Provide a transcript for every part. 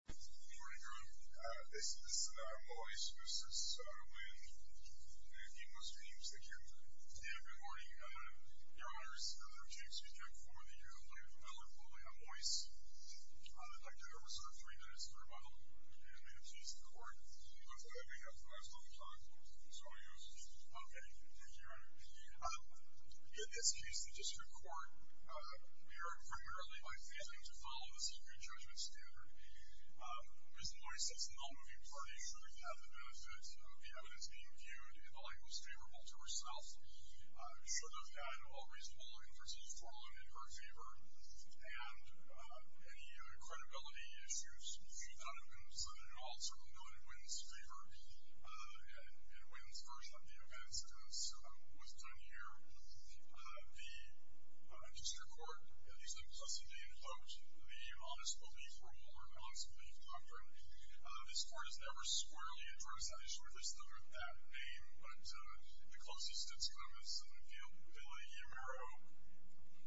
Good morning, Your Honor. This is Mois v. Wynn, and he must be the prosecutor. Yeah, good morning. Your Honor, this is another case we've done for the year. I look forward to it. I'm Mois. I would like to reserve three minutes for rebuttal, and may have to use the court. Looks like we have the last on the clock, so I'll use it. Okay. Thank you, Your Honor. In this case, the District Court, we are primarily likely to follow the secret judgment standard. Mr. Mois, as an all-moving party, should have had the benefit of the evidence being viewed in the likelihoods favor of all to herself, should have had all reasonable inferences forewarned in her favor, and any credibility issues, she thought of them as an all-circumvented Wynn's favor, and Wynn's version of the events as was done here. The District Court, at least in the custody, invoked the Honest Belief Rule or Honest Belief Contract. This Court has never squarely addressed that issue. There's none of that in vain, but the closest it's come is in the Villa-Yamero,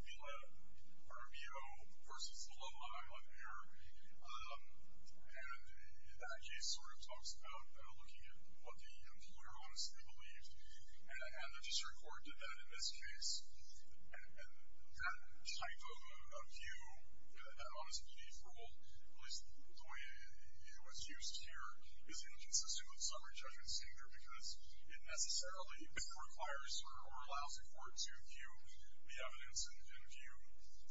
Villa-Romeo v. Lullaby on air, and that case sort of talks about looking at what the employer honestly believes, and the District Court did that in this case, and that type of view, that Honest Belief Rule, at least the way it was used here, is inconsistent with summary judgment standard because it necessarily requires or allows the Court to view the evidence and view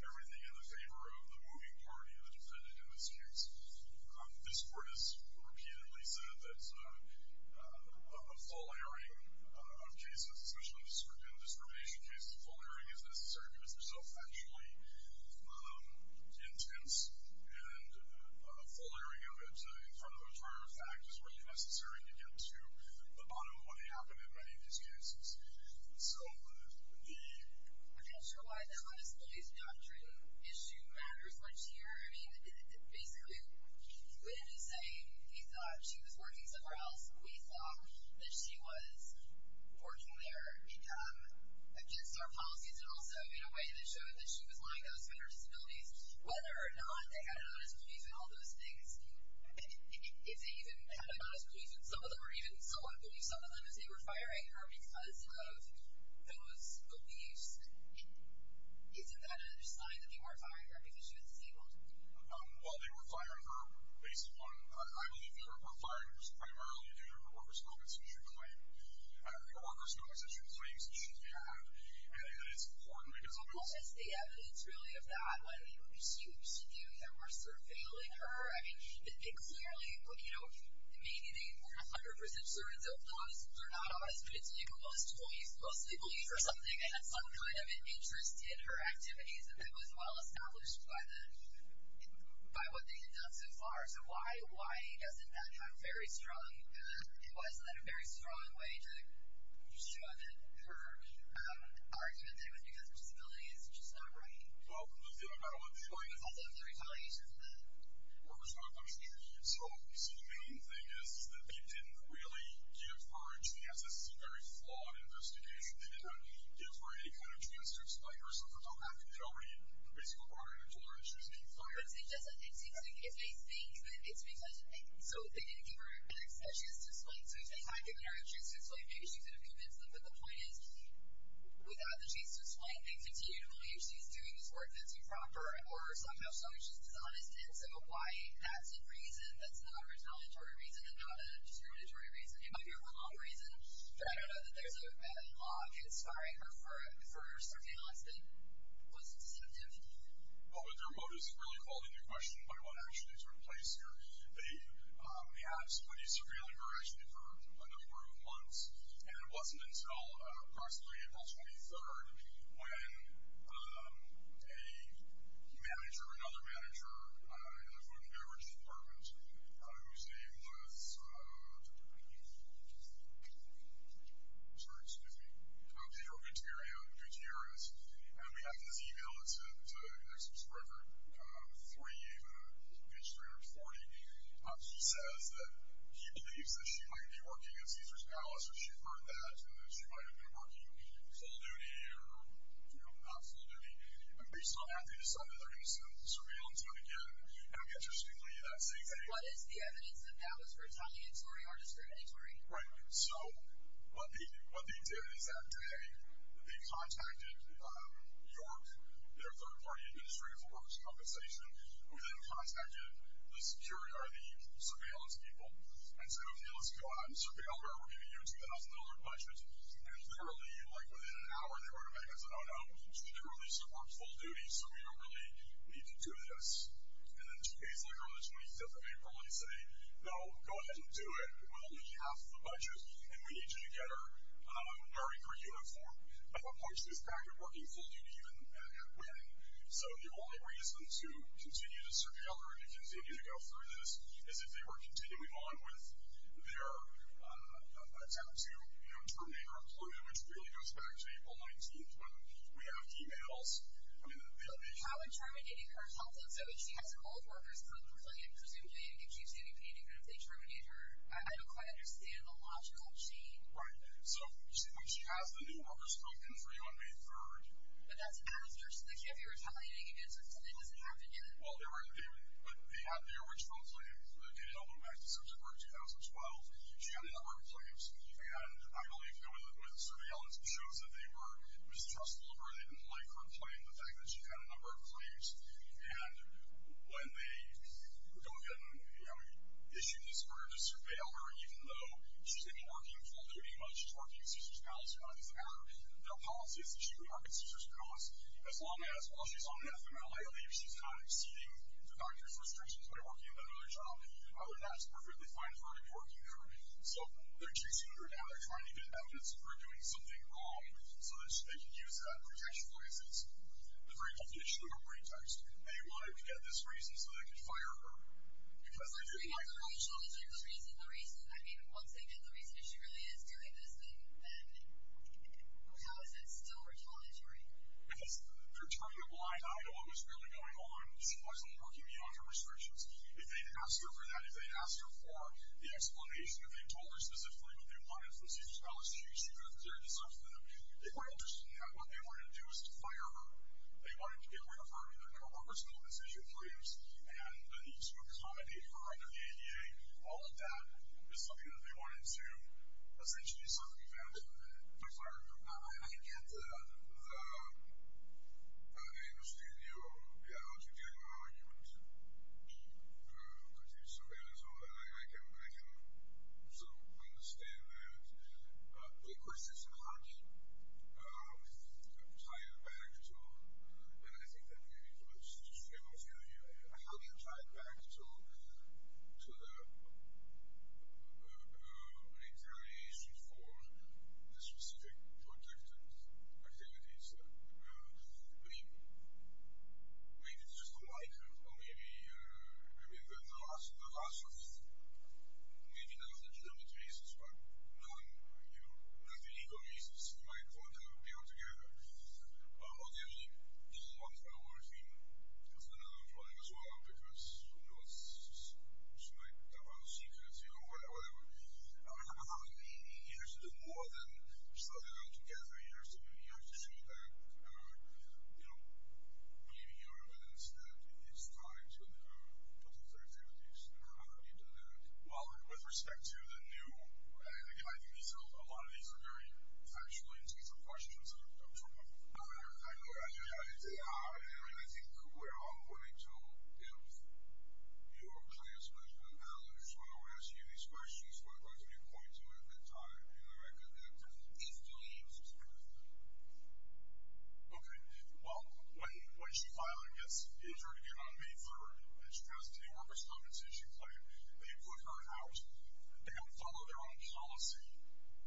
everything in the favor of the moving party, the defendant in this case. This Court has repeatedly said that a full airing of cases, especially indiscrimination cases, a full airing is necessary because they're so factually intense, and a full airing of it in front of the entire fact is really necessary to get to the bottom of what happened in many of these cases. So the... I'm not sure why the Honest Belief Doctrine issue matters much here. I mean, basically, Lynn is saying he thought she was working somewhere else, and we thought that she was working there against our policies, and also in a way that showed that she was lying to us about her disabilities. Whether or not they had an honest belief in all those things, if they even had an honest belief in some of them, or even somewhat believed some of them as they were firing her because of those beliefs, isn't that another sign that they were firing her because she was disabled? Well, they were firing her based on... I believe they were firing her primarily because of what was known as a true claim. You know, what was known as a true claim is a true crime, and it's importantly to cover that up. Well, is the evidence really of that what even she knew that were surveilling her? I mean, they clearly... Maybe they weren't 100% certain that they were not honest, but most people mostly believe for something. They had some kind of interest in her activities, and it was well-established by what they had done so far. So why doesn't that have very strong evidence? Why isn't that a very strong way to show that her argument there was because of disability is just not right? Well, let's do another one. Also, the retaliation for the... What was my question? So the main thing is that they didn't really give her a chance to explain herself or talk back to her and basically barred her from telling her issues. As far as it doesn't exist, if they think that it's because of me. So they didn't give her an excuse to explain. So if they had given her a chance to explain, maybe she could have convinced them. But the point is, without the chance to explain, they continue to believe she's doing this work that's improper or somehow showing she's dishonest. And so why that's a reason that's not a retaliatory reason and not a juridictory reason, it might be a wrong reason, but I don't know that there's a law conspiring her for surveillance that wasn't substantive. Well, but their motive is really called into question by what actually took place here. They had put a surveilling her actually for a number of months, and it wasn't until approximately April 23rd when a manager, another manager, another manager in the emergency department, whose name was, sorry, excuse me, Pedro Gutierrez, and we have his e-mail, it's an ex-president, 3, page 340. He says that he believes that she might be working at Cesar's Palace or she heard that and that she might have been working full duty or, you know, not full duty. And based on that, they decided they're going to send surveillance out again. And interestingly, that same day... But what is the evidence that that was retaliatory or discriminatory? Right. So what they did is that today they contacted York, their third-party administrator for works compensation, who then contacted the security, or the surveillance people, and said, okay, let's go out and surveil her. We're giving you a $2,000 budget. And literally, like, within an hour, they were to make us an on-out. She literally said, we're on full duty, so we don't really need to do this. And then today is, like, on the 25th of April, and they say, no, go ahead and do it. We'll only give you half the budget, and we need you to get her married, her uniform. I thought, punch this back at working full duty and winning. So the only reason to continue to surveil her and to continue to go through this is if they were continuing on with their attempt to, you know, terminate her employment, which really goes back to April 19th, when we have emails. I mean, they'll be... But how would terminating her employment, so if she has her old workers come complain, presumably it gives you TVP, even if they terminate her? I don't quite understand the logical chain. Right. So, you see, when she has the new workers come in for you on May 3rd... But that's after. So they can't be retaliating against her until it doesn't happen again. Well, there were complaints. They held them back to September 2012. She got the other complaints, and I believe the way the surveillance shows that they were mistrustful of her, they didn't like her complaining, the fact that she had a number of complaints. And when they go ahead and, you know, issue this order to surveil her, even though she's going to be working full duty, while she's working at Sister's Palace, her policy is that she can work at Sister's Palace as long as, while she's on FMLA, if she's not exceeding the doctor's restrictions when working at another job, that's perfectly fine for her to be working there. So they're chasing her now. They're trying to get evidence that they're doing something wrong so that they can use that protection for instance. The very healthy issue of her pretext. They wanted to get this reason so they could fire her because they didn't like her. So once they get the reason that she really is doing this thing, then how is that still retaliatory? Because they're turning a blind eye to what was really going on when she wasn't working beyond her restrictions. If they'd asked her for that, if they'd told her specifically what they wanted from Sister's Palace, she could have cleared herself of them. They weren't interested in that. What they wanted to do was to fire her. They wanted to get rid of her, and they're going to work with some of the decision-makers, and they need to accommodate her under the ADA. All of that is something that they wanted to essentially circumvent. I get that. And I get that. I understand you. Yeah, I was going to get an argument from the producer there as well, and I can understand that. But the question is how do you tie it back to, and I think that maybe folks just failed to hear here, how do you tie it back to the retaliation for the specific protected activities? I mean, maybe it's just a like, or maybe the last one is maybe not legitimate reasons, but non-illegal reasons. It might work. They work together. Obviously, it's not our thing. That's another problem as well, because who knows? She might come out of secrecy or whatever. I mean, you have to do more than slug it out together. I mean, you have to show that, you know, believing your evidence that it's tied to potential activities. How do you do that? Well, with respect to the new, and again, I think a lot of these are very factual and detailed questions. I'm sorry. I know. I know. I think we're all going to, you know, you're clearly as much of an analyst when we're asking you these questions what are you going to be pointing to at that time? I'm going to go back to the piece of the law. Okay. Well, when she filed and gets injured again on May 3rd, and she has a day worker's compensation claim, they put her out. They don't follow their own policy.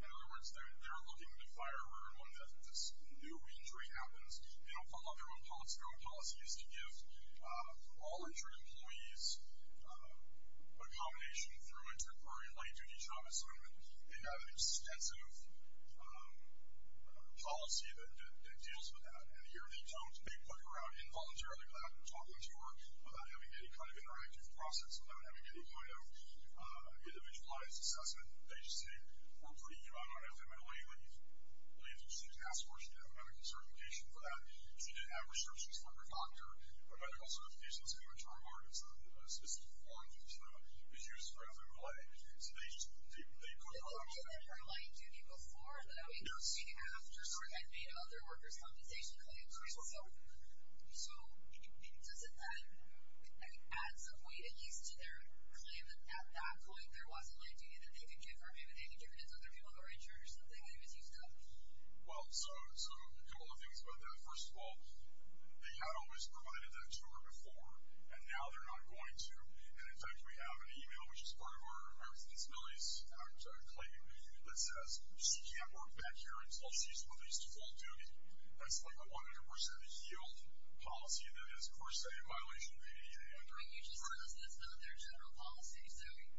In other words, they're looking to fire her when this new injury happens. They don't follow their own policy. Their own policy is to give all injured employees a combination through a temporary light duty job assignment. They have an extensive policy that deals with that. And here they don't. They put her out involuntarily without talking to her, without having any kind of interactive process with her, without having any kind of individualized assessment. They just say, we're putting you out. I don't think I'm going to let you leave. I want you to just leave the task force. You have medical certification for that. She didn't have research. She's not a doctor. They also have a license for term arguments, so this foreign institution is used throughout LA. So they put her out. They put her out before, but I mean not after any other workers' compensation claims. So does it then add some weight at least to their claim that at that point there wasn't light duty that they could give her? Maybe they could give it to other people who are insured or something, anything you can think of? Well, so a couple of things about that. First of all, they had always provided that to her before, and now they're not going to. And, in fact, we have an e-mail, which is part of our Remembrance of Disabilities Act claim, that says she can't work back here until she's released full duty. That's like a 100% yield policy that is, per se, in violation of the ADA. And you just heard us discuss what their general policy is doing.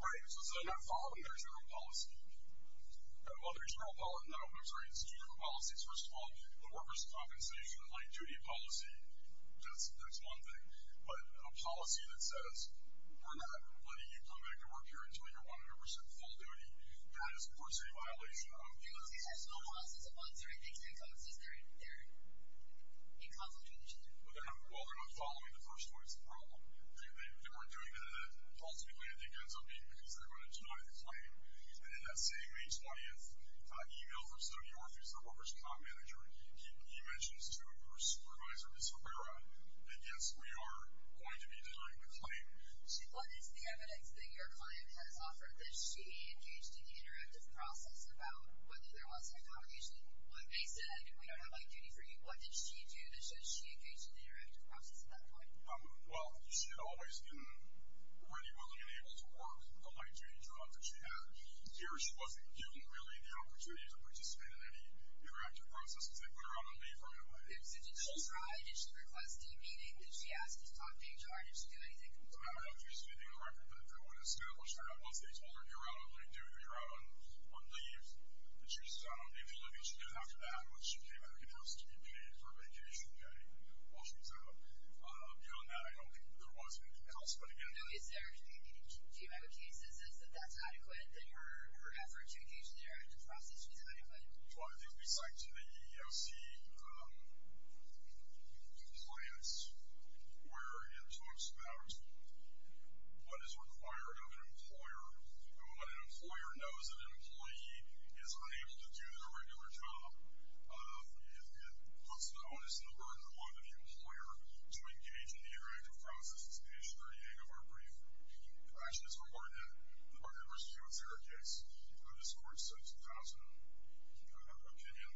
Right. So is that not following their general policy? Well, their general policy, no, it's two different policies. First of all, the workers' compensation light duty policy, that's one thing. But a policy that says, we're not letting you come back to work here until you're 100% full duty, that is, per se, in violation of the ADA. It looks like there's no process of monitoring. They can't process their in-consultation. Well, they're not following the first one. That's the problem. They weren't doing it in a policy way. I think it ends up being because they're going to deny the claim. And in that same May 20th e-mail from Stony Brook, who's the workers' comp manager, he mentions to his supervisor, Ms. Rivera, that, yes, we are going to be denying the claim. What is the evidence that your client has offered that she engaged in the interactive process about whether there was compensation? When they said, we don't have light duty for you, what did she do? And should she engage in the interactive process at that point? Well, she had always been ready, willing, and able to work the light duty job that she had. Here, she wasn't given, really, the opportunity to participate in any interactive process, because they put her out on leave for a good amount of time. So did she try? Did she request a meeting? Did she ask to stop being charged? Did she do anything? No, I don't think she's meeting the record. But if it was a scandal, she got both days. Well, you're out on leave, too. You're out on leave. But she's out on leave for a good amount of time. Once she came back, it was to be paid for a vacation day while she was out. Beyond that, I don't think there was any compensation. No, is there? Do you have any cases as if that's adequate, that your efforts to engage in the interactive process would be adequate? Well, I think we cite to the EEOC compliance where it talks about what is required of an employer and what an employer knows that an employee is unable to do their regular job. It puts the onus and the burden on the employer to engage in the interactive process. It's the history, I think, of our brief. I think it's a very clear case. This court's sentence has an opinion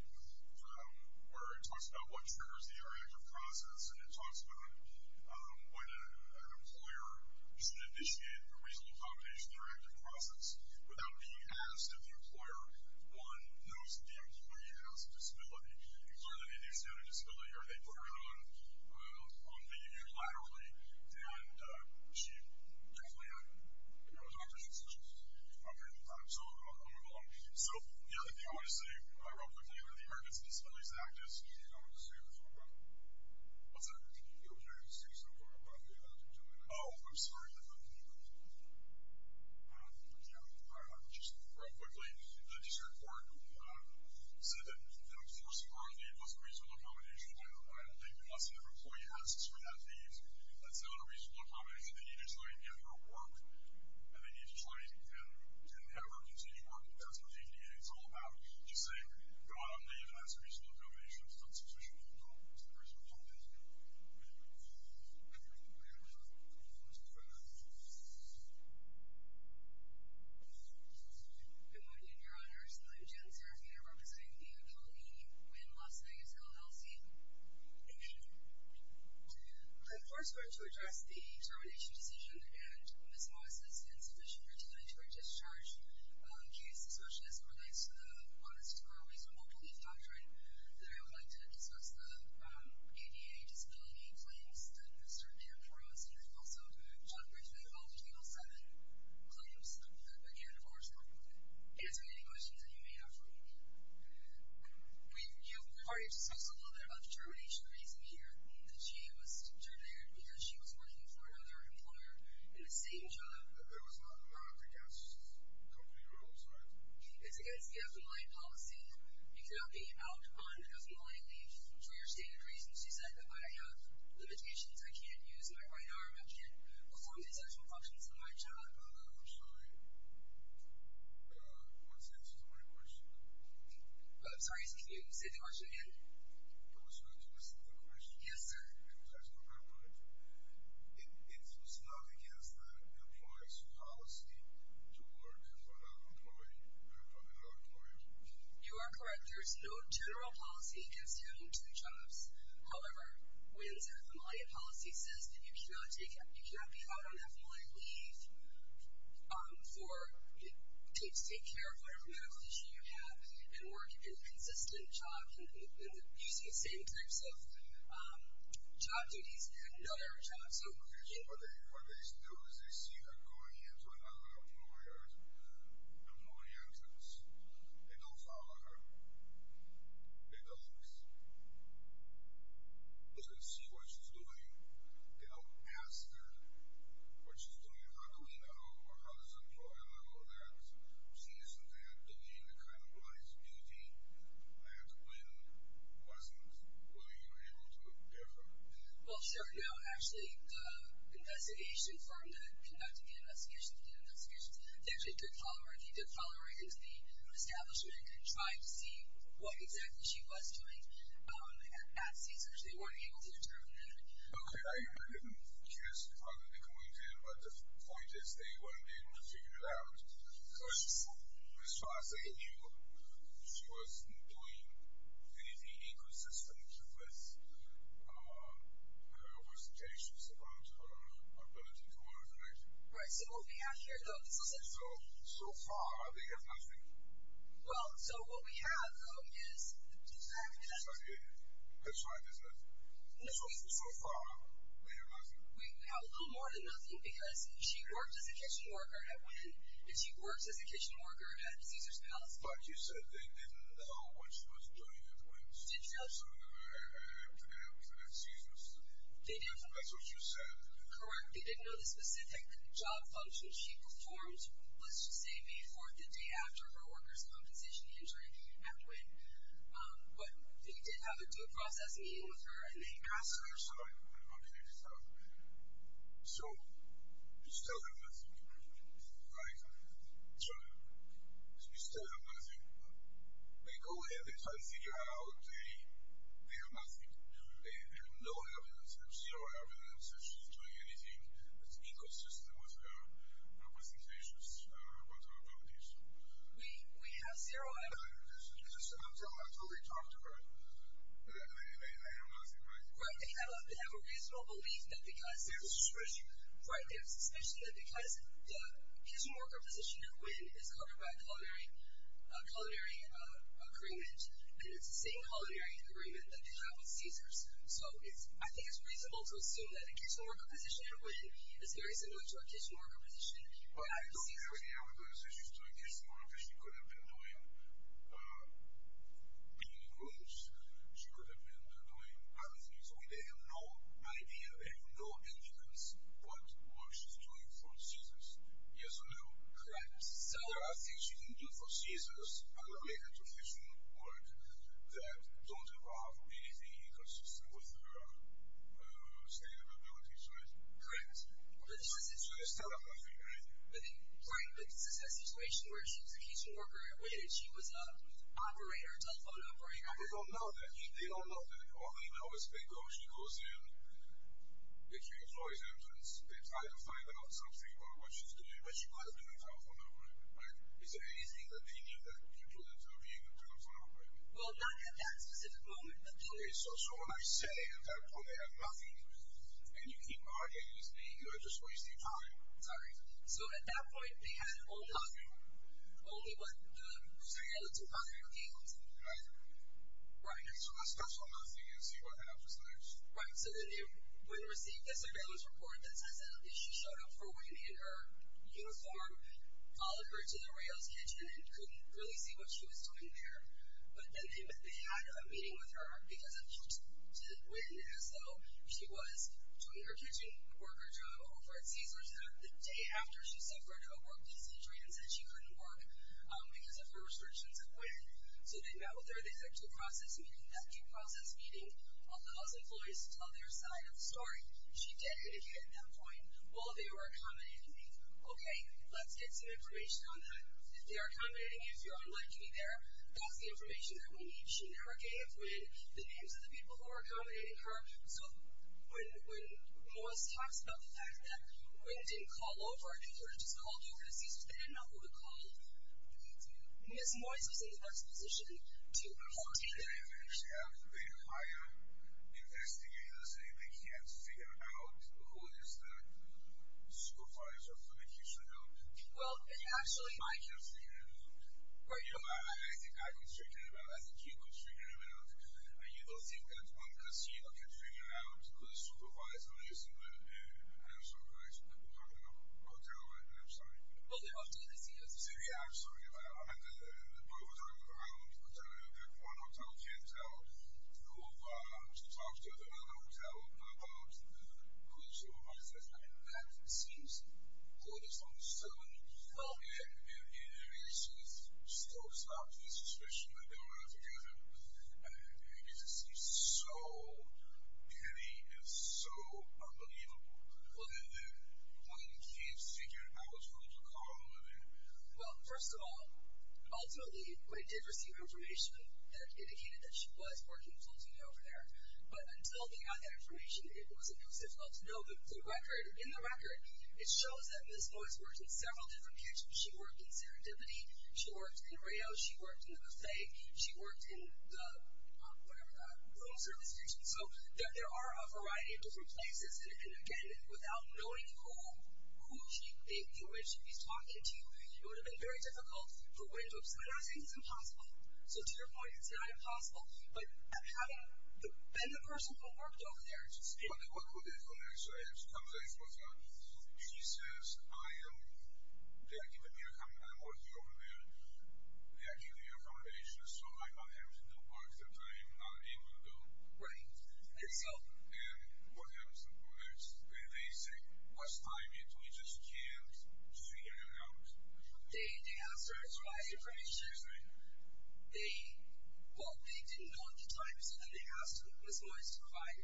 where it talks about what triggers the interactive process, and it talks about when an employer should initiate a reasonable compensation interactive process without being asked if the employer knows that the employee has a disability. And clearly they do stand a disability, or they put it on leave unilaterally. And she definitely had, you know, as an opportunity to do so. Okay. So I'll move along. So the other thing I want to say real quickly about the Americans with Disabilities Act is... I don't know if this is what you were going to talk about. What's that? You were going to say something about the EEOC. Oh, I'm sorry. I thought you were going to talk about it. Yeah, I thought you were going to talk about it. Just real quickly, the district court said that the enforcement of the EEOC reasonable compensation I don't think unless an employee has a disability that's not a reasonable compensation. They need to try and get it at work, and they need to try and get it at work until you work with them. That's what the EEOC is all about. Just saying you're on a leave and that's a reasonable compensation. That's a reasonable compensation. Okay. Okay. All right. Let's move on. Good morning, Your Honors. I'm Jen Serafino, representing the EEOC in Las Vegas, Ohio. Thank you. I'm here to address the termination decision against Ms. Moises in sufficient return to her discharge. She is a socialist and relates to the honest-to-god reasonable relief doctrine. I would like to discuss the ADA disability claims that Mr. Camp wrote. And I'd also like to talk briefly about the K-07 claims that the enforcement is making, questions that you may have for me. We've heard you discuss a little bit about the termination reason here, that she was terminated because she was working for another employer in the same job. There was not a problem, I guess, with the company that I was hired. It's against the underlying policy. You cannot be out on an underlying leave for your stated reasons. You said that I have limitations, I can't use my right arm, I can't perform the essential functions of my job. I'm sorry. What's the answer to my question? I'm sorry, can you say the question again? I'm sorry, can you say the question again? Yes, sir. I'm sorry, can you clarify? It's not against the employer's policy to work for another employee or for another employer? You are correct. There is no general policy against having two jobs. However, when a familiar policy says that you cannot be out on a familiar leave, or take care of whatever medical condition you have and work in consistent jobs and using the same types of job duties at another job, so you can't be out on a familiar leave. What they do is they see her going into another employer and nobody enters. They don't follow her. They don't. They don't see what she's doing. They don't ask her what she's doing and how do we know or how does the employer know that she isn't having any kind of liability and when wasn't, were you able to hear from her? Well, sure. No, actually, the investigation firm that conducted the investigations, the investigations, they actually did follow her. He did follow her into the establishment and tried to see what exactly she was doing at CSER. They weren't able to determine that. Okay. I didn't hear what they pointed, but the point is they weren't able to figure it out because as far as they knew, she wasn't doing anything consistent with her representations about her ability to work. Right, so what we have here, though, this is essential. So far, we have nothing. Well, so what we have, though, is the design of the investigation. That's right. That's right, isn't it? So far, we have nothing. We have a little more than nothing because she worked as a kitchen worker at Wynn and she worked as a kitchen worker at Caesars Palace. But you said they didn't know what she was doing at Wynn's. Did you know? So that's what you said. Correct. They didn't know the specific job functions she performed, let's just say May 4th, the day after her workers' compensation injury at Wynn, but they did have her do a processing meeting with her in Caesars, sorry, I'm forgetting stuff. So we still have nothing. Right? So we still have nothing. But they go in, they try to figure out they have nothing. They have no evidence, they have zero evidence that she's doing anything that's inconsistent with her representations about her abilities. We have zero evidence. That's what we talked about. They have nothing, right? Right. They have a reasonable belief that because there's a suspicion that because the kitchen worker position at Wynn is covered by a culinary agreement, and it's the same culinary agreement that they have with Caesars, so I think it's reasonable to assume that a kitchen worker position at Wynn is very similar to a kitchen worker position at Caesars. I don't think they have a good assumption that a kitchen worker position at Caesars is very similar to a kitchen worker position at Wynn. I don't think so. They have no idea, they have no evidence what she's doing for Caesars. Yes or no? Correct. So there are things you can do for Caesars that don't involve anything inconsistent with her scalability, right? Correct. So there's telepathy, right? Right, but this is a situation where if she was a kitchen worker at Wynn and she was an operator, a telephone operator... They don't know that. They don't know that. All they know is they go, she goes in, and she employs entrance. They try to find out something about what she's doing, but she probably doesn't have a telephone number, right? Is there anything that they knew that you couldn't tell you to go tell them, right? Well, not at that specific moment, but... So when I say at that point, they have nothing, and you keep arguing, and you're just wasting time. Sorry. So at that point, they had only... Nothing. Only what the surveillance department was able to do. Right. Right. So that's special enough for you to see what that officer does. Right. So then they wouldn't receive the surveillance report that says that she showed up for Wynn in her uniform, followed her to the Rails kitchen, and couldn't really see what she was doing there. But then they had a meeting with her because of her to Wynn, as though she was doing her kitchen work or job over at Caesars the day after she suffered a work-disease injury and said she couldn't work because of her restrictions at Wynn. So they met with her at the executive process meeting. At that process meeting, all the house employees tell their side of the story. She did indicate at that point, well, they were accommodating me. Okay, let's get some information on that. If they are accommodating you, if you're unlikely there, that's the information that we need. She never gave Wynn the names of the people who were accommodating her. So when Moise talks about the fact that Wynn didn't call over, if he would have just called you, because they didn't know who to call, Ms. Moise was in the best position to hold you there. Did they actually have the rate of fire investigators and make you have to figure out who is the school fire department that you should know? Well, actually... I can't figure that out. I think I can figure that out. I can keep on figuring it out. You don't think that I'm going to see you after figuring out who the supervisor is? I'm sorry, guys. We're talking about hotel, right? I'm sorry. Well, they're not going to see us. Yeah, I'm sorry about that. I'm going to have to move around. One hotel can't tell who to talk to. I don't know who to tell about who the supervisor is. I know that. It seems gorgeous on the surface. Well, yeah. I mean, it makes me so stop to the suspicion that they were looking at her. It just seems so petty and so unbelievable. Look at that. One can't figure out who to call. Well, first of all, ultimately, we did receive information that indicated that she was working full-time over there. But until we got that information, it was impossible to know the record. In the record, it shows that Ms. Moise worked in several different kitchens. She worked in Serendipity. She worked in Rails. She worked in the buffet. She worked in the room service kitchen. So there are a variety of different places. And again, without knowing who she was talking to, it would have been very difficult for her to observe. So I don't think it's impossible. So to your point, it's not impossible. But having been the person who worked over there, she says, I am working over there. They are giving me recommendations. So I'm not having to know what's the time. I'm not able to know. Right. And what happens to the products? They say, what's timing? We just can't figure it out. They have to provide information. Right. Well, they didn't know the times. So then they asked Ms. Moise to provide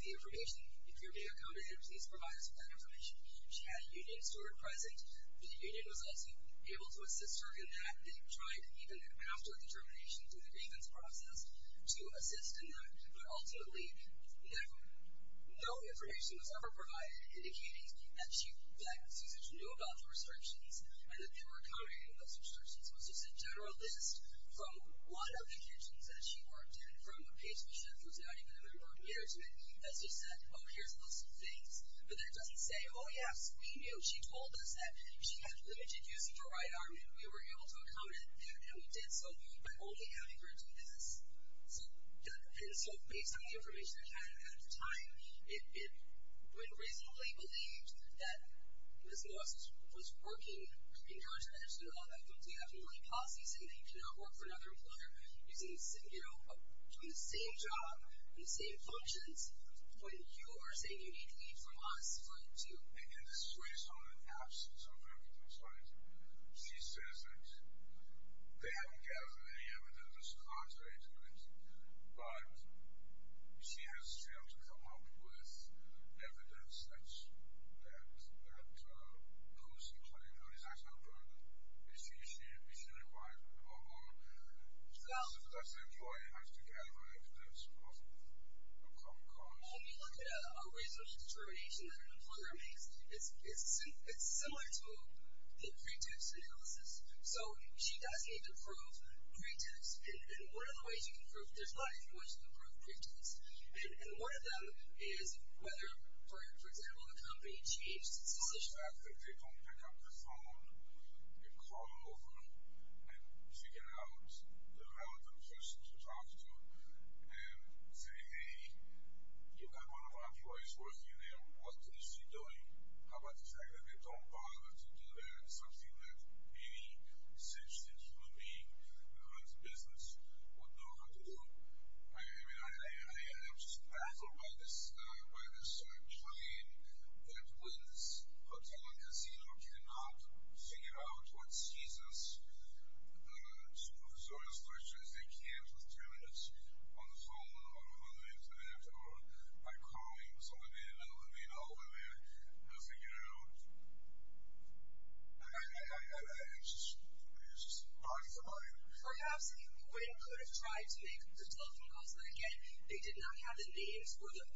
the information. If you're being accommodated, please provide us with that information. She had a union steward present. The union was also able to assist her in that. They tried, even after the termination, through the grievance process, to assist in that. But ultimately, no information was ever provided, indicating that Susan knew about the restrictions and that they were accommodating those restrictions. It was just a general list from one of the kitchens that she worked in from a patient who said, I didn't even remember her name, that she said, oh, here's those things. But that doesn't say, oh, yes, we knew. She told us that she had limited use of her right arm, and we were able to accommodate that, and we did so by only having her do this. And so based on the information that we had at the time, it would reasonably believe that Ms. Moise was working, encouraging her to do all that. You cannot work for another employer. You're doing the same job, doing the same functions, when you're saying you need to leave from us for it to... And in the space of an absence of evidence, right, she says that they haven't gathered any evidence as to how she did it, but she has failed to come up with evidence that proves the employee who is actually unemployed is doing it right or wrong. So that's the employee who has to gather evidence from Congress. When you look at a racial discrimination that an employer makes, it's similar to the pre-tips analysis. So she does need to prove pre-tips, and one of the ways you can prove... There's a lot of different ways you can prove pre-tips, and one of them is whether, for example, the company changed its solution. If they don't pick up the phone and call over and figure out the relevant person to talk to and say, Hey, you've got one of our employees working there. What is she doing? How about the fact that they don't bother to do that, something that any sentient human being who runs a business would know how to do? I mean, I'm just baffled by this claim that Wynn's Hotel and Casino cannot figure out what sees us, Supervisorial Storytellers, as they can for 30 minutes on the phone or on the Internet or by calling someone in and letting all of them in and figuring it out. I'm just confused. Perhaps Wynn could have tried to make the telephone call, so that, again, they did not have the names or the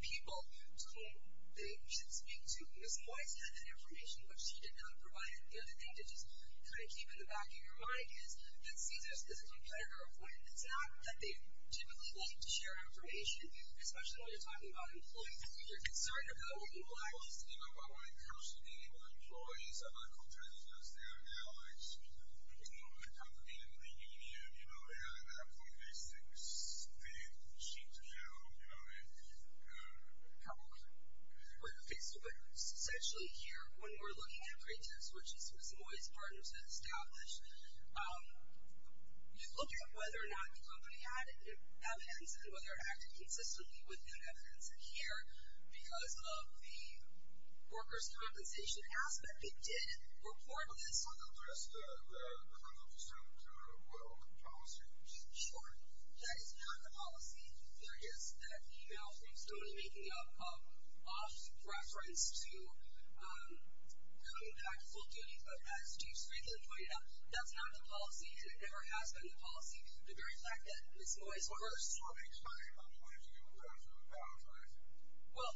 people to whom they should speak to. Ms. Wise had that information, but she did not provide it. The other thing to just kind of keep in the back of your mind is that sees us as a competitor of Wynn. It's not that they typically like to share information, especially when you're talking about employees. If you're concerned about your employees... I mean, you know, at that point, basically, it was just a big machine to know, you know, how to work. We're going to fix it, but essentially here, when we're looking at pretexts, which Ms. Wise's partners had established, you look at whether or not the company had evidence and whether it acted consistently with good evidence. And here, because of the workers' compensation aspect, it did report on this. Sure. That is not the policy. There is that e-mail from Stone making an off-reference to cutting back full duties, but as Steve Strickland pointed out, that's not the policy. It never has been the policy. The very fact that Ms. Wise... Well...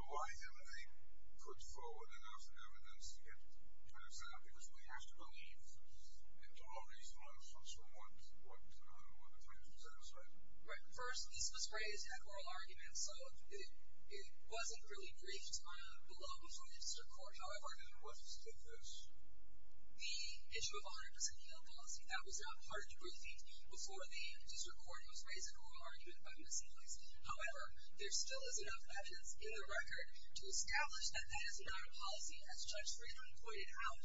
Why haven't they put forward enough evidence to get to an example? Because we have to believe in all these motions from one to the other, one to three, is what I'm saying. Right. First, this was raised at oral arguments, so it wasn't really briefed below before the district court. However... And what is this? The issue of 100% yield policy. That was not part of the briefings before the district court was raised at oral arguments by Ms. Eagles. However, there still is enough evidence in the record to establish that that is not a policy, as Judge Friedman pointed out.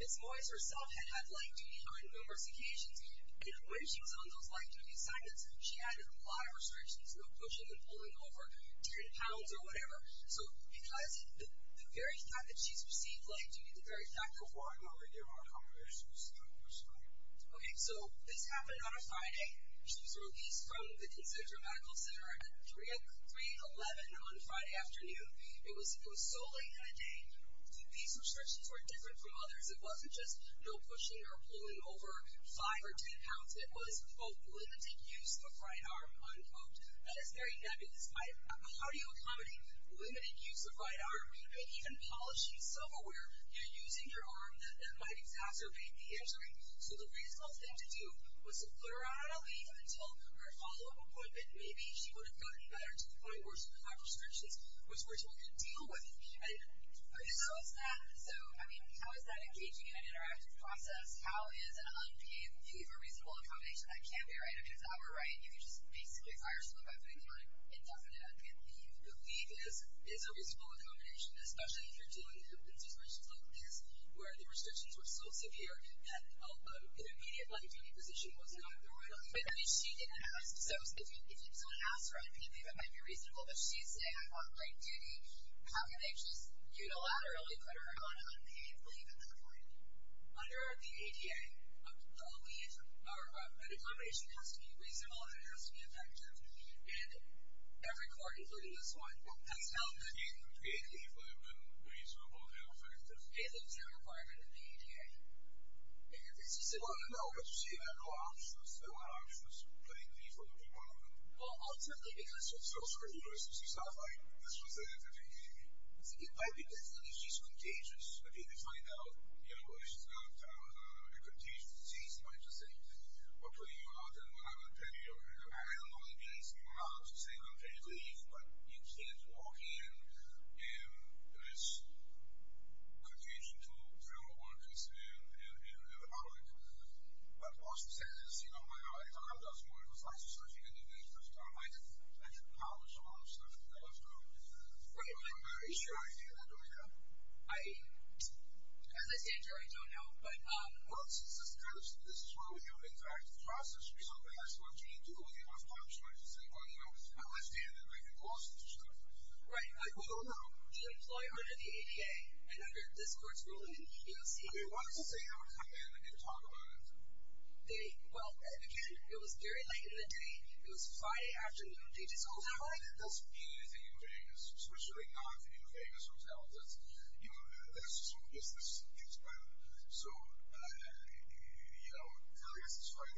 Ms. Wise herself had had light duty on numerous occasions, and when she was on those light duty assignments, she had a lot of restrictions, no pushing and pulling over 10 pounds or whatever. So, because the very fact that she's received light duty, the very fact... Okay, so this happened on a Friday. She was released from the Kinsinger Medical Center at 3-11 on Friday afternoon. It was so late in the day. These restrictions were different from others. It wasn't just no pushing or pulling over 5 or 10 pounds. It was, quote, "...limited use of right arm," unquote. That is very nebulous. How do you accommodate limited use of right arm and even polishing self-aware and using your arm that might exacerbate the injury? So the reasonable thing to do was to put her on a leave until her follow-up appointment. Maybe she would have gotten better to the point where she would have had restrictions, which we're trying to deal with. So, I mean, how is that engaging in an interactive process? How is an unpaid leave a reasonable accommodation? That can't be right. I mean, if that were right, you could just basically fire someone by putting them on indefinite leave. A leave is a reasonable accommodation, especially if you're dealing with restrictions like this, where the restrictions were so severe that an immediate left-of-duty position was not a good one. I mean, she didn't ask. So if someone asks for an indefinite leave, it might be reasonable, but she's saying, I want right duty. How can they just unilaterally put her on an unpaid leave at that point? Under the ADA, a leave or an accommodation has to be reasonable and it has to be effective. And every court, including this one, has held that it is completely reasonable and effective. It's a requirement of the ADA. Well, no, but you see, I have no options. I don't have options. Putting a leave or an accommodation. Well, certainly, because it's so serious, it's just not like this was the entity. It might be because she's contagious. Okay, they find out, you know, she's not a contagious disease. They might just say, we'll put you out. I don't know if you're asking her out or saying unpaid leave, but you can't walk in. It's contagious. But what she says is, you know, I don't know if that's more of a science or something, but I might actually publish some other stuff. I don't know. Are you sure you can do that, Rebecca? As I said, Jerry, I don't know. Well, since this is true, this is how you interact with the process. You don't have to have a team to go with you. You don't have to talk to somebody to say, well, you know, let's see if we can gloss this stuff over. Right, like, well, no. She'll employ her to the APA, and under this court's ruling, you'll see... Okay, what if they ever come in and they talk about it? They, well, again, it was very late in the day. It was Friday afternoon. They just called it a night. It doesn't mean anything in Vegas, especially not in a Vegas hotel. That's, you know, that's just some business. So, you know, I guess it's fine.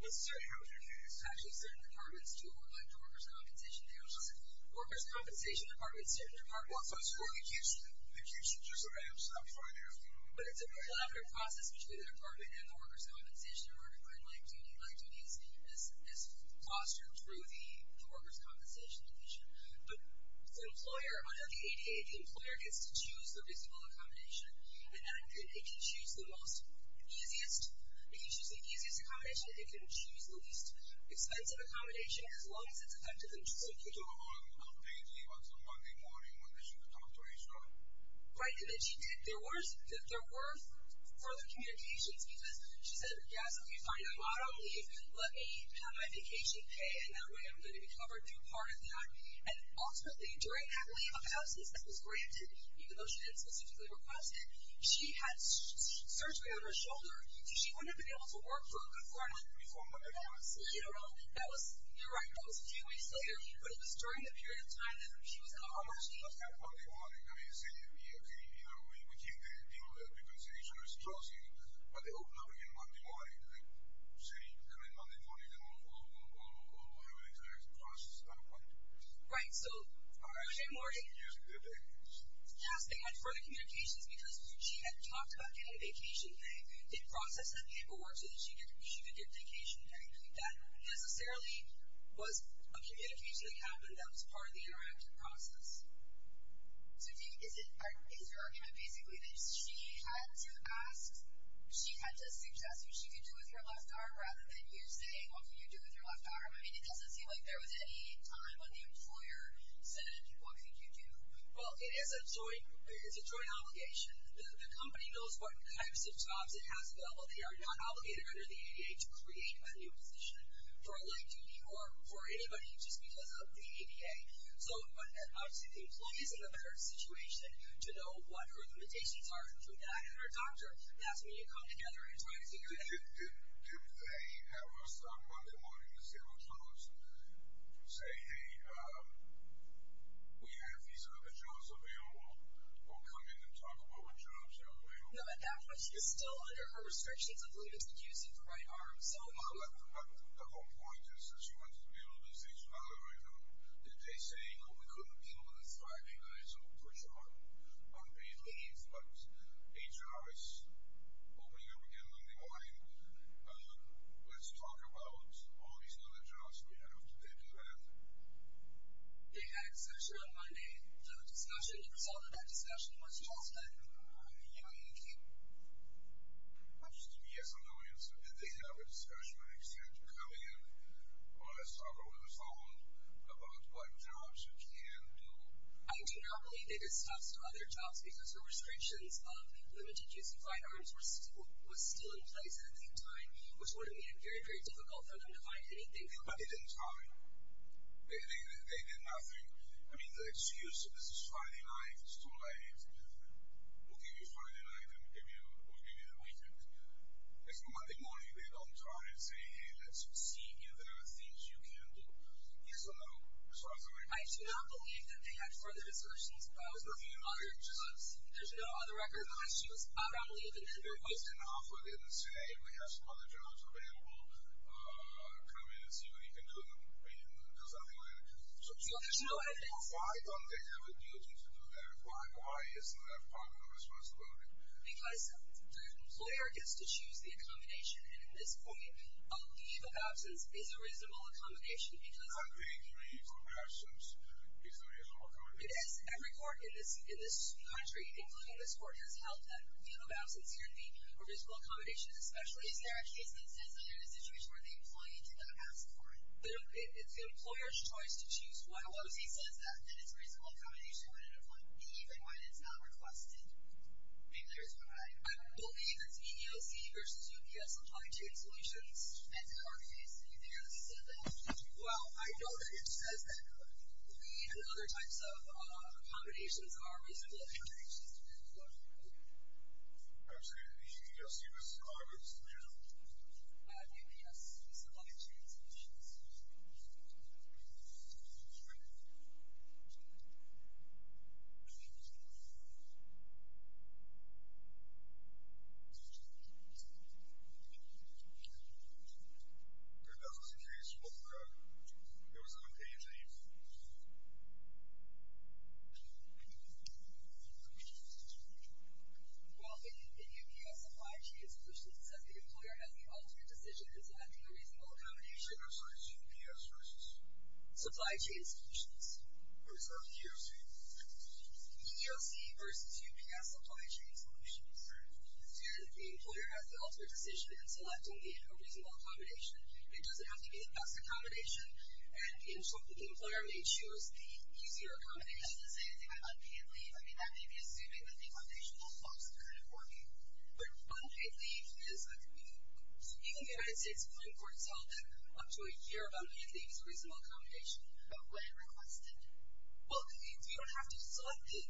Let's see. How do you do this? Actually, certain departments do it more like workers' compensation. They don't just... Workers' compensation departments, certain departments... Well, so it's for the accused. The accused should just... Okay, I'm sorry. But it's a very elaborate process between the department and the workers' compensation in order to find, like, do you need, like, do these, this classroom through the workers' compensation division. But the employer, under the ADA, the employer gets to choose the reasonable accommodation, and then they can choose the most easiest, they can choose the easiest accommodation, they can choose the least expensive accommodation, as long as it's effective and true. So people don't pay to leave on some Monday morning when they should have come to a restaurant? Right, and then she did. There were further communications because she said, yes, if you find I'm out on leave, let me have my vacation paid, and that way I'm going to be covered through part of that. And ultimately, during that leave of absence, that was granted, even though she didn't specifically request it, she had surgery on her shoulder. She wouldn't have been able to work for a good four months. Before Monday morning. You don't know. That was, you're right, that was a few weeks later, but it was during the period of time that she was on her leave. On Monday morning. I mean, see, if we agree, either way, we keep the compensation or it's closing, but they open up again Monday morning, like, see, and then Monday morning, they move on, move on, move on, move on. Either way, it's a process. Right, so... Yes, they had further communications because she had talked about getting a vacation. They did process that paperwork so that she could get a vacation. That necessarily was a communication that happened that was part of the interactive process. So is your argument basically that she had to ask, she had to suggest what she could do with her left arm rather than you saying, what can you do with your left arm? I mean, it doesn't seem like there was any time when the employer said, what can you do? Well, it is a joint obligation. The company knows what types of jobs it has available. They are not obligated under the ADA to create a new position for a light duty or for anybody just because of the ADA. So obviously the employee is in a better situation to know what her limitations are through that, and her doctor asked me to come together and try to figure that out. Did they have us on Monday morning to say, well, tell us, say, hey, we have these other jobs available. We'll come in and talk about what jobs are available. No, but that question is still under her restrictions. I believe it's the use of the right arm, so... But the whole point is that she wanted to be able to do things without the right arm. Did they say, well, we couldn't deal with the thriving eyes and the push-on of these needs? But HR is opening up again Monday morning. Let's talk about all these other jobs we have. Did they do that? They had a discussion on Monday. The discussion itself, that discussion was just that you can't... I'm just saying yes or no answer. Did they have a discussion or an exchange coming in on a Saturday morning phone about what jobs you can do? I do not believe they discussed other jobs because her restrictions of limited use of right arms was still in place at the time, which would have made it very, very difficult for them to find anything. But they didn't tell me. They did nothing. I mean, the excuse, this is Friday night, it's too late, we'll give you a Friday night, we'll give you a weekend. It's Monday morning. They don't try and say, hey, let's see if there are things you can do. Yes or no? I do not believe that they had further discussions. There's no other record of questions. I don't believe it. They're posting off within, say, hey, we have some other jobs available, come in and see what you can do. I mean, does that make sense? No, there's no evidence. Why don't they have a duty to do that? Why isn't that part of the responsibility? Because the employer gets to choose the accommodation, and at this point, a leave of absence is a reasonable accommodation. I agree with you on that. It's a reasonable accommodation. It is. Every court in this country, including this court, has held that leave of absence, or leave of reasonable accommodation, especially if there are cases, and there are situations where the employee did not ask for it. It's the employer's choice to choose what it was. He says that, and it's a reasonable accommodation when an employee leaves and when it's not requested. I believe it's EEOC versus UPS. Supply chain solutions, anti-carbonates, anything of the sort. Well, I know that it says that leave and other types of accommodations are reasonable accommodations. I'm sorry, EEOC versus carbonates. UPS, supply chain solutions. Is that on? Okay. In the EPS supply chain solutions, it says the employer has the ultimate decision in selecting a reasonable accommodation. EPS versus? Supply chain solutions. Or is that EOC? EOC versus EPS supply chain solutions. Okay. And the employer has the ultimate decision in selecting the reasonable accommodation. It doesn't have to be the best accommodation, and the employer may choose the easier accommodation. Does it say anything about unpaid leave? I mean, that may be assuming that the accommodation will also kind of work. But unpaid leave is a good thing. So even if the United States appoints for itself, up to a year, about anything is reasonable accommodation. But when requested? Well, you don't have to select the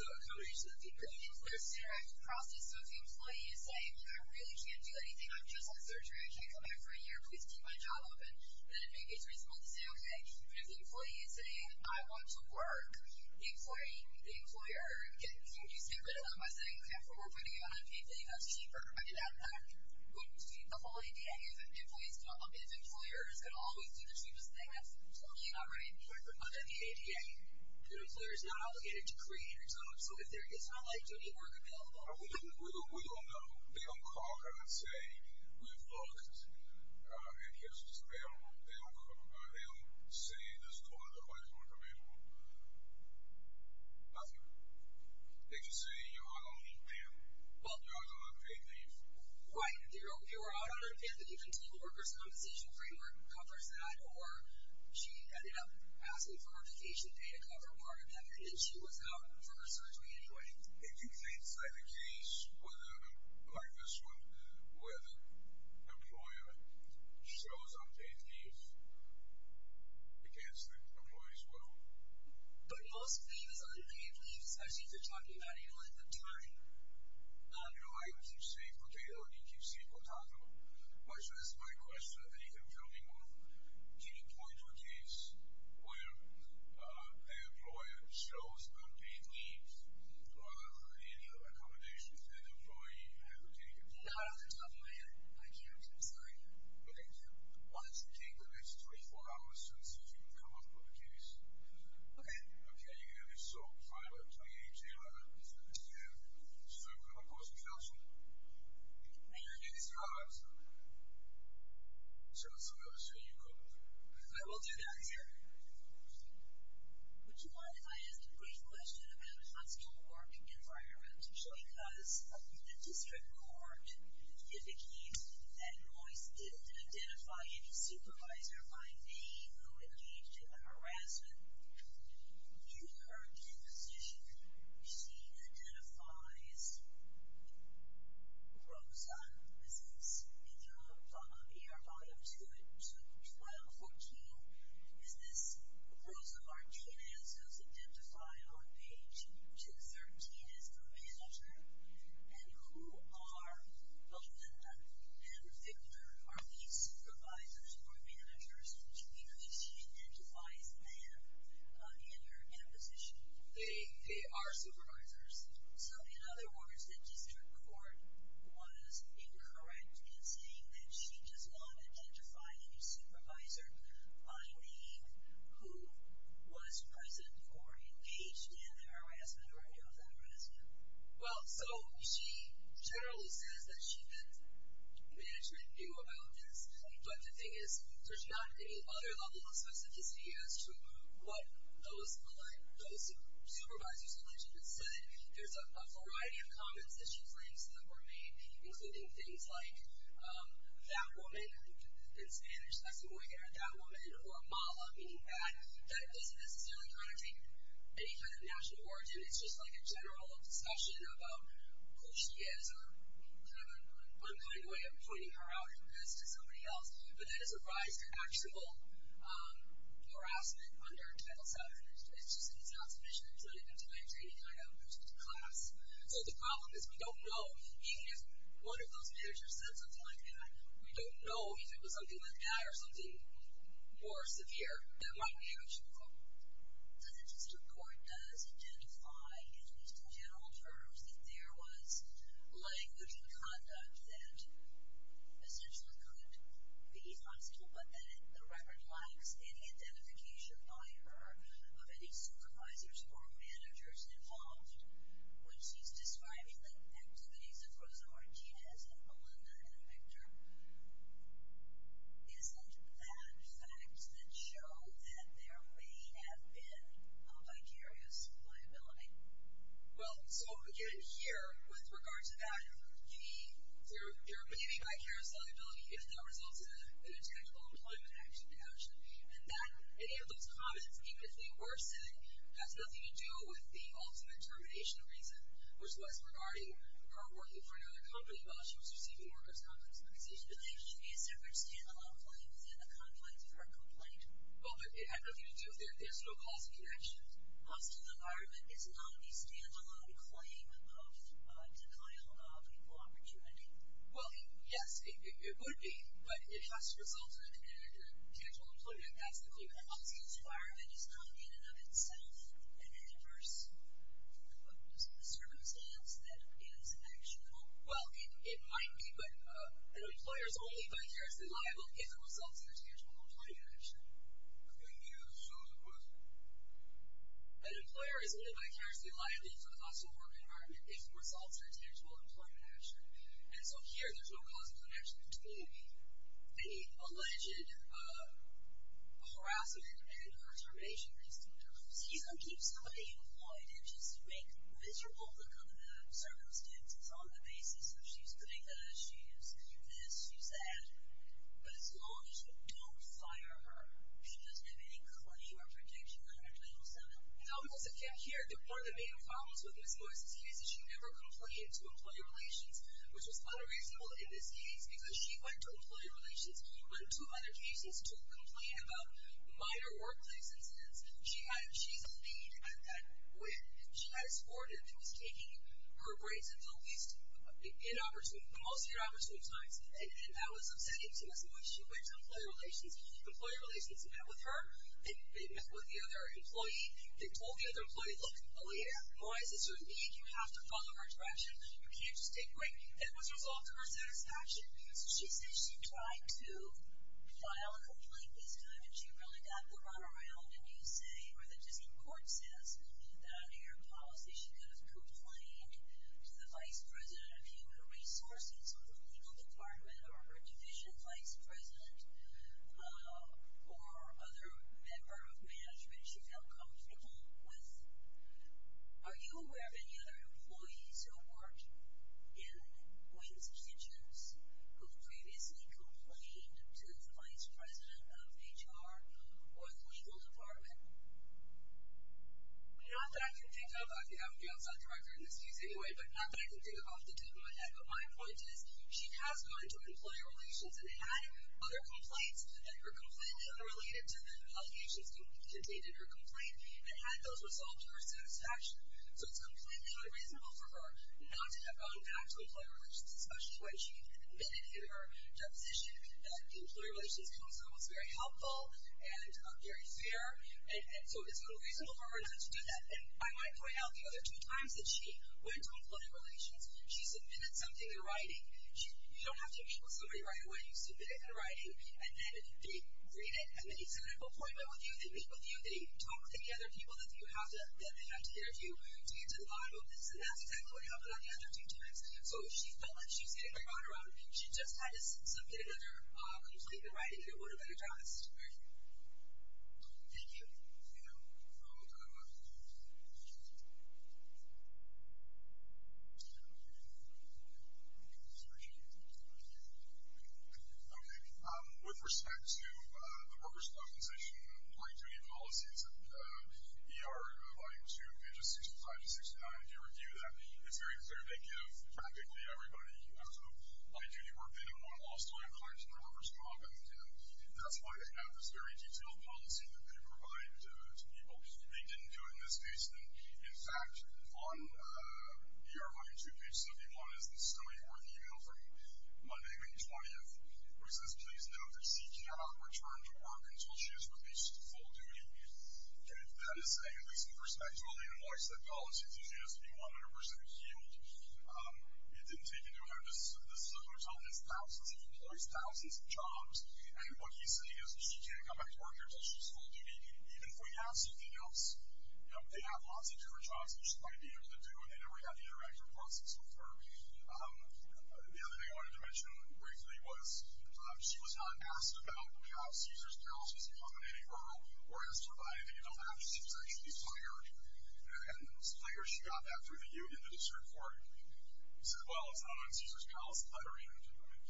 accommodation that they bring in. There's a direct process. So if the employee is saying, you know, I really can't do anything. I'm just on surgery. I can't come back for a year. Please keep my job open. Then it may be reasonable to say, okay. But if the employee is saying, I want to work, the employer can just get rid of them by saying, okay, if we're putting you on unpaid leave, that's cheaper. I mean, the whole idea is that the employer is going to always do the cheapest thing. That's totally not right. But then the ADA, the employer is not obligated to create your job. So it's not like you need work available. We don't know. They don't call, kind of, and say, we've looked, and here's what's available. They don't say, this is the only job I can work for me. Nothing. They can say, you know, I don't need them. Well, you're on unpaid leave. Right. They were out on unpaid leave. The continual workers' compensation framework covers that. Or she ended up asking for her vacation pay to cover part of that, and then she was out for her surgery anyway. If you think that the case, like this one, where the employer shows unpaid leave, I can't say the employees will. But most things on unpaid leave, especially if they're talking about it, you let them talk. No, I keep saying potato, and you keep saying potato. My question is, I think I'm coming off to the point of a case where the employer shows unpaid leave rather than any other accommodations that the employee has obtained. Not on the topic yet. I can't, I'm sorry. Okay. Why don't you take the next 24 hours and see if you can come up with a case. Okay. Okay, you're going to be sole private, so you need to be able to do what you're supposed to be able to do. You're going to get these jobs. So that's all I've got to say. You go. I will do that, sir. Would you mind if I ask a brief question about a constant work environment? Because the district court indicates that your employees didn't identify any supervisor by name who engaged in the harassment. Due to her disposition, she identifies Rosa, is this, if you'll follow up here, follow up to 1214, is this Rosa Martinez, who's identified on page 213 as the manager, and who are Belinda and Victor. Are these supervisors or managers because she identifies them in her disposition? They are supervisors. So in other words, the district court was incorrect in saying that she does not identify any supervisor by name who was present or engaged in the harassment, or any of the harassment. Well, so she generally says that she meant management knew about this, but the thing is, there's not any other level of specificity as to what those supervisors or managers said. There's a variety of comments that she brings that were made, including things like, that woman, in Spanish, that woman, or mala, meaning that it doesn't necessarily kind of take any kind of national origin. It's just like a general discussion about who she is, or kind of a one point way of pointing her out to somebody else. But that is a rise to actual harassment under Title VII. It's just that it's not sufficient to let it into my training, and I don't go to the class. So the problem is, we don't know, even if one of those managers said something like that, we don't know if it was something like that, or something more severe than my manager. Does the district court, does it identify, in these general terms, that there was language and conduct that essentially could be possible, but that the record lacks any identification by her of any supervisors or managers involved when she's describing the activities of Rosa Martinez and Melinda and Victor? Isn't that fact that showed that there may have been a vicarious liability? Well, so again, here, with regards to value, there may be vicarious liability if that results in an intangible employment action to action, and that any of those comments, even if they were said, has nothing to do with the ultimate termination reason, which was regarding her working for another company while she was receiving workers' compensation. But there should be a separate stand-alone claim than a conflict of her complaint. Well, but it had nothing to do with that. There's no causal connections. Hostile environment is not a stand-alone claim of denial of equal opportunity. Well, yes, it would be, but if that's resulted in an intangible employment, that's the claim. I'm saying the requirement is not in and of itself an adverse circumstance that is actionable. Well, it might be, but an employer is only vicariously liable if it results in an intangible employment action. Could you show the quote? An employer is only vicariously liable if it results in an intangible employment action. And so here, there's no causal connection between the alleged harassment and her termination reason. So you don't keep somebody employed and just make miserable look on the circumstances on the basis that she's doing this, she's this, she's that. But as long as you don't fire her, she doesn't have any claim or protection under Title VII. No, because if you're here, one of the main problems with Ms. Boyce's case is she never complained to Employee Relations, which was kind of reasonable in this case because she went to Employee Relations when two other cases took complaint about minor workplace incidents. She's a lead at that. When she had a sport, it was taking her grades at the most inopportune times, and that was upsetting to Ms. Boyce. She went to Employee Relations. Employee Relations met with her. They met with the other employee. They told the other employee, look, oh, yeah, Boyce, this would mean you have to follow her direction. You can't just take grades. And it was a result of her satisfaction. So she said she tried to file a complaint this time, and she really got the runaround. And you say, or the District Court says, that under your policy, she could have complained to the vice president of Human Resources or the legal department or her division vice president or other member of management. She felt comfortable with. Are you aware of any other employees who have worked in Boyce's kitchens who have previously complained to the vice president of HR or the legal department? Not that I can think of. I think I'm the outside director in this case anyway, but not that I can think of off the top of my head. But my point is, she has gone to Employee Relations and had other complaints that were completely unrelated to the allegations contained in her complaint, and had those resolved to her satisfaction. So it's completely unreasonable for her not to have gone back to Employee Relations, especially when she admitted in her deposition that the Employee Relations Council was very helpful and very fair. So it's unreasonable for her not to do that. And I might point out the other two times that she went to Employee Relations, You don't have to show somebody right away. You submit it in writing, and then they read it, and then you send an appointment with you, they meet with you, they talk with any other people that you have to, that they have to get to the bottom of this, and that's exactly what happened on the other two times. So she felt like she was getting very caught around. She just had to submit it in her complaint in writing, and it would have been addressed. Thank you. Ian? Okay. With respect to the workers' compensation, Employee Duty Policy, it's an ER volume 2, pages 65 to 69. If you review that, it's very clear. They give practically everybody who has to apply duty work they don't want lost on their clients in the workers' comp, and that's why they have this very detailed policy that they provide to people. They didn't do it in this case. In fact, on ER volume 2, page 71, is the summary work email from Monday, May 20th, where it says, Please note that C cannot return to work until she has released full duty. Okay, that is saying, at least in perspective, only in a voice-led policy, that she has to be 100% healed. It didn't take into account that this hotel has thousands of employees, thousands of jobs, and what he's saying is that she can't come back to work until she has full duty, even if we have something else. They have lots of different jobs, which is probably easier to do, and they never got the interactive process with her. The other thing I wanted to mention briefly was she was not asked about how Caesars Palace was accommodating for her workers providing that you don't have to be sexually fired, and it's clear she got that through the union, the district court, as well as on Caesars Palace lettering.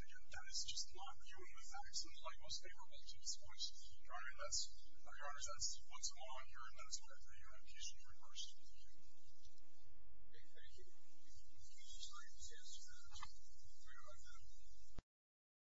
Again, that is just non-union with that. Those are some of my most favorable points. Your Honor, that's what's going on here in Minnesota through your application for reimbursement. Thank you. Thank you. Thank you. Thank you. We are adjourned.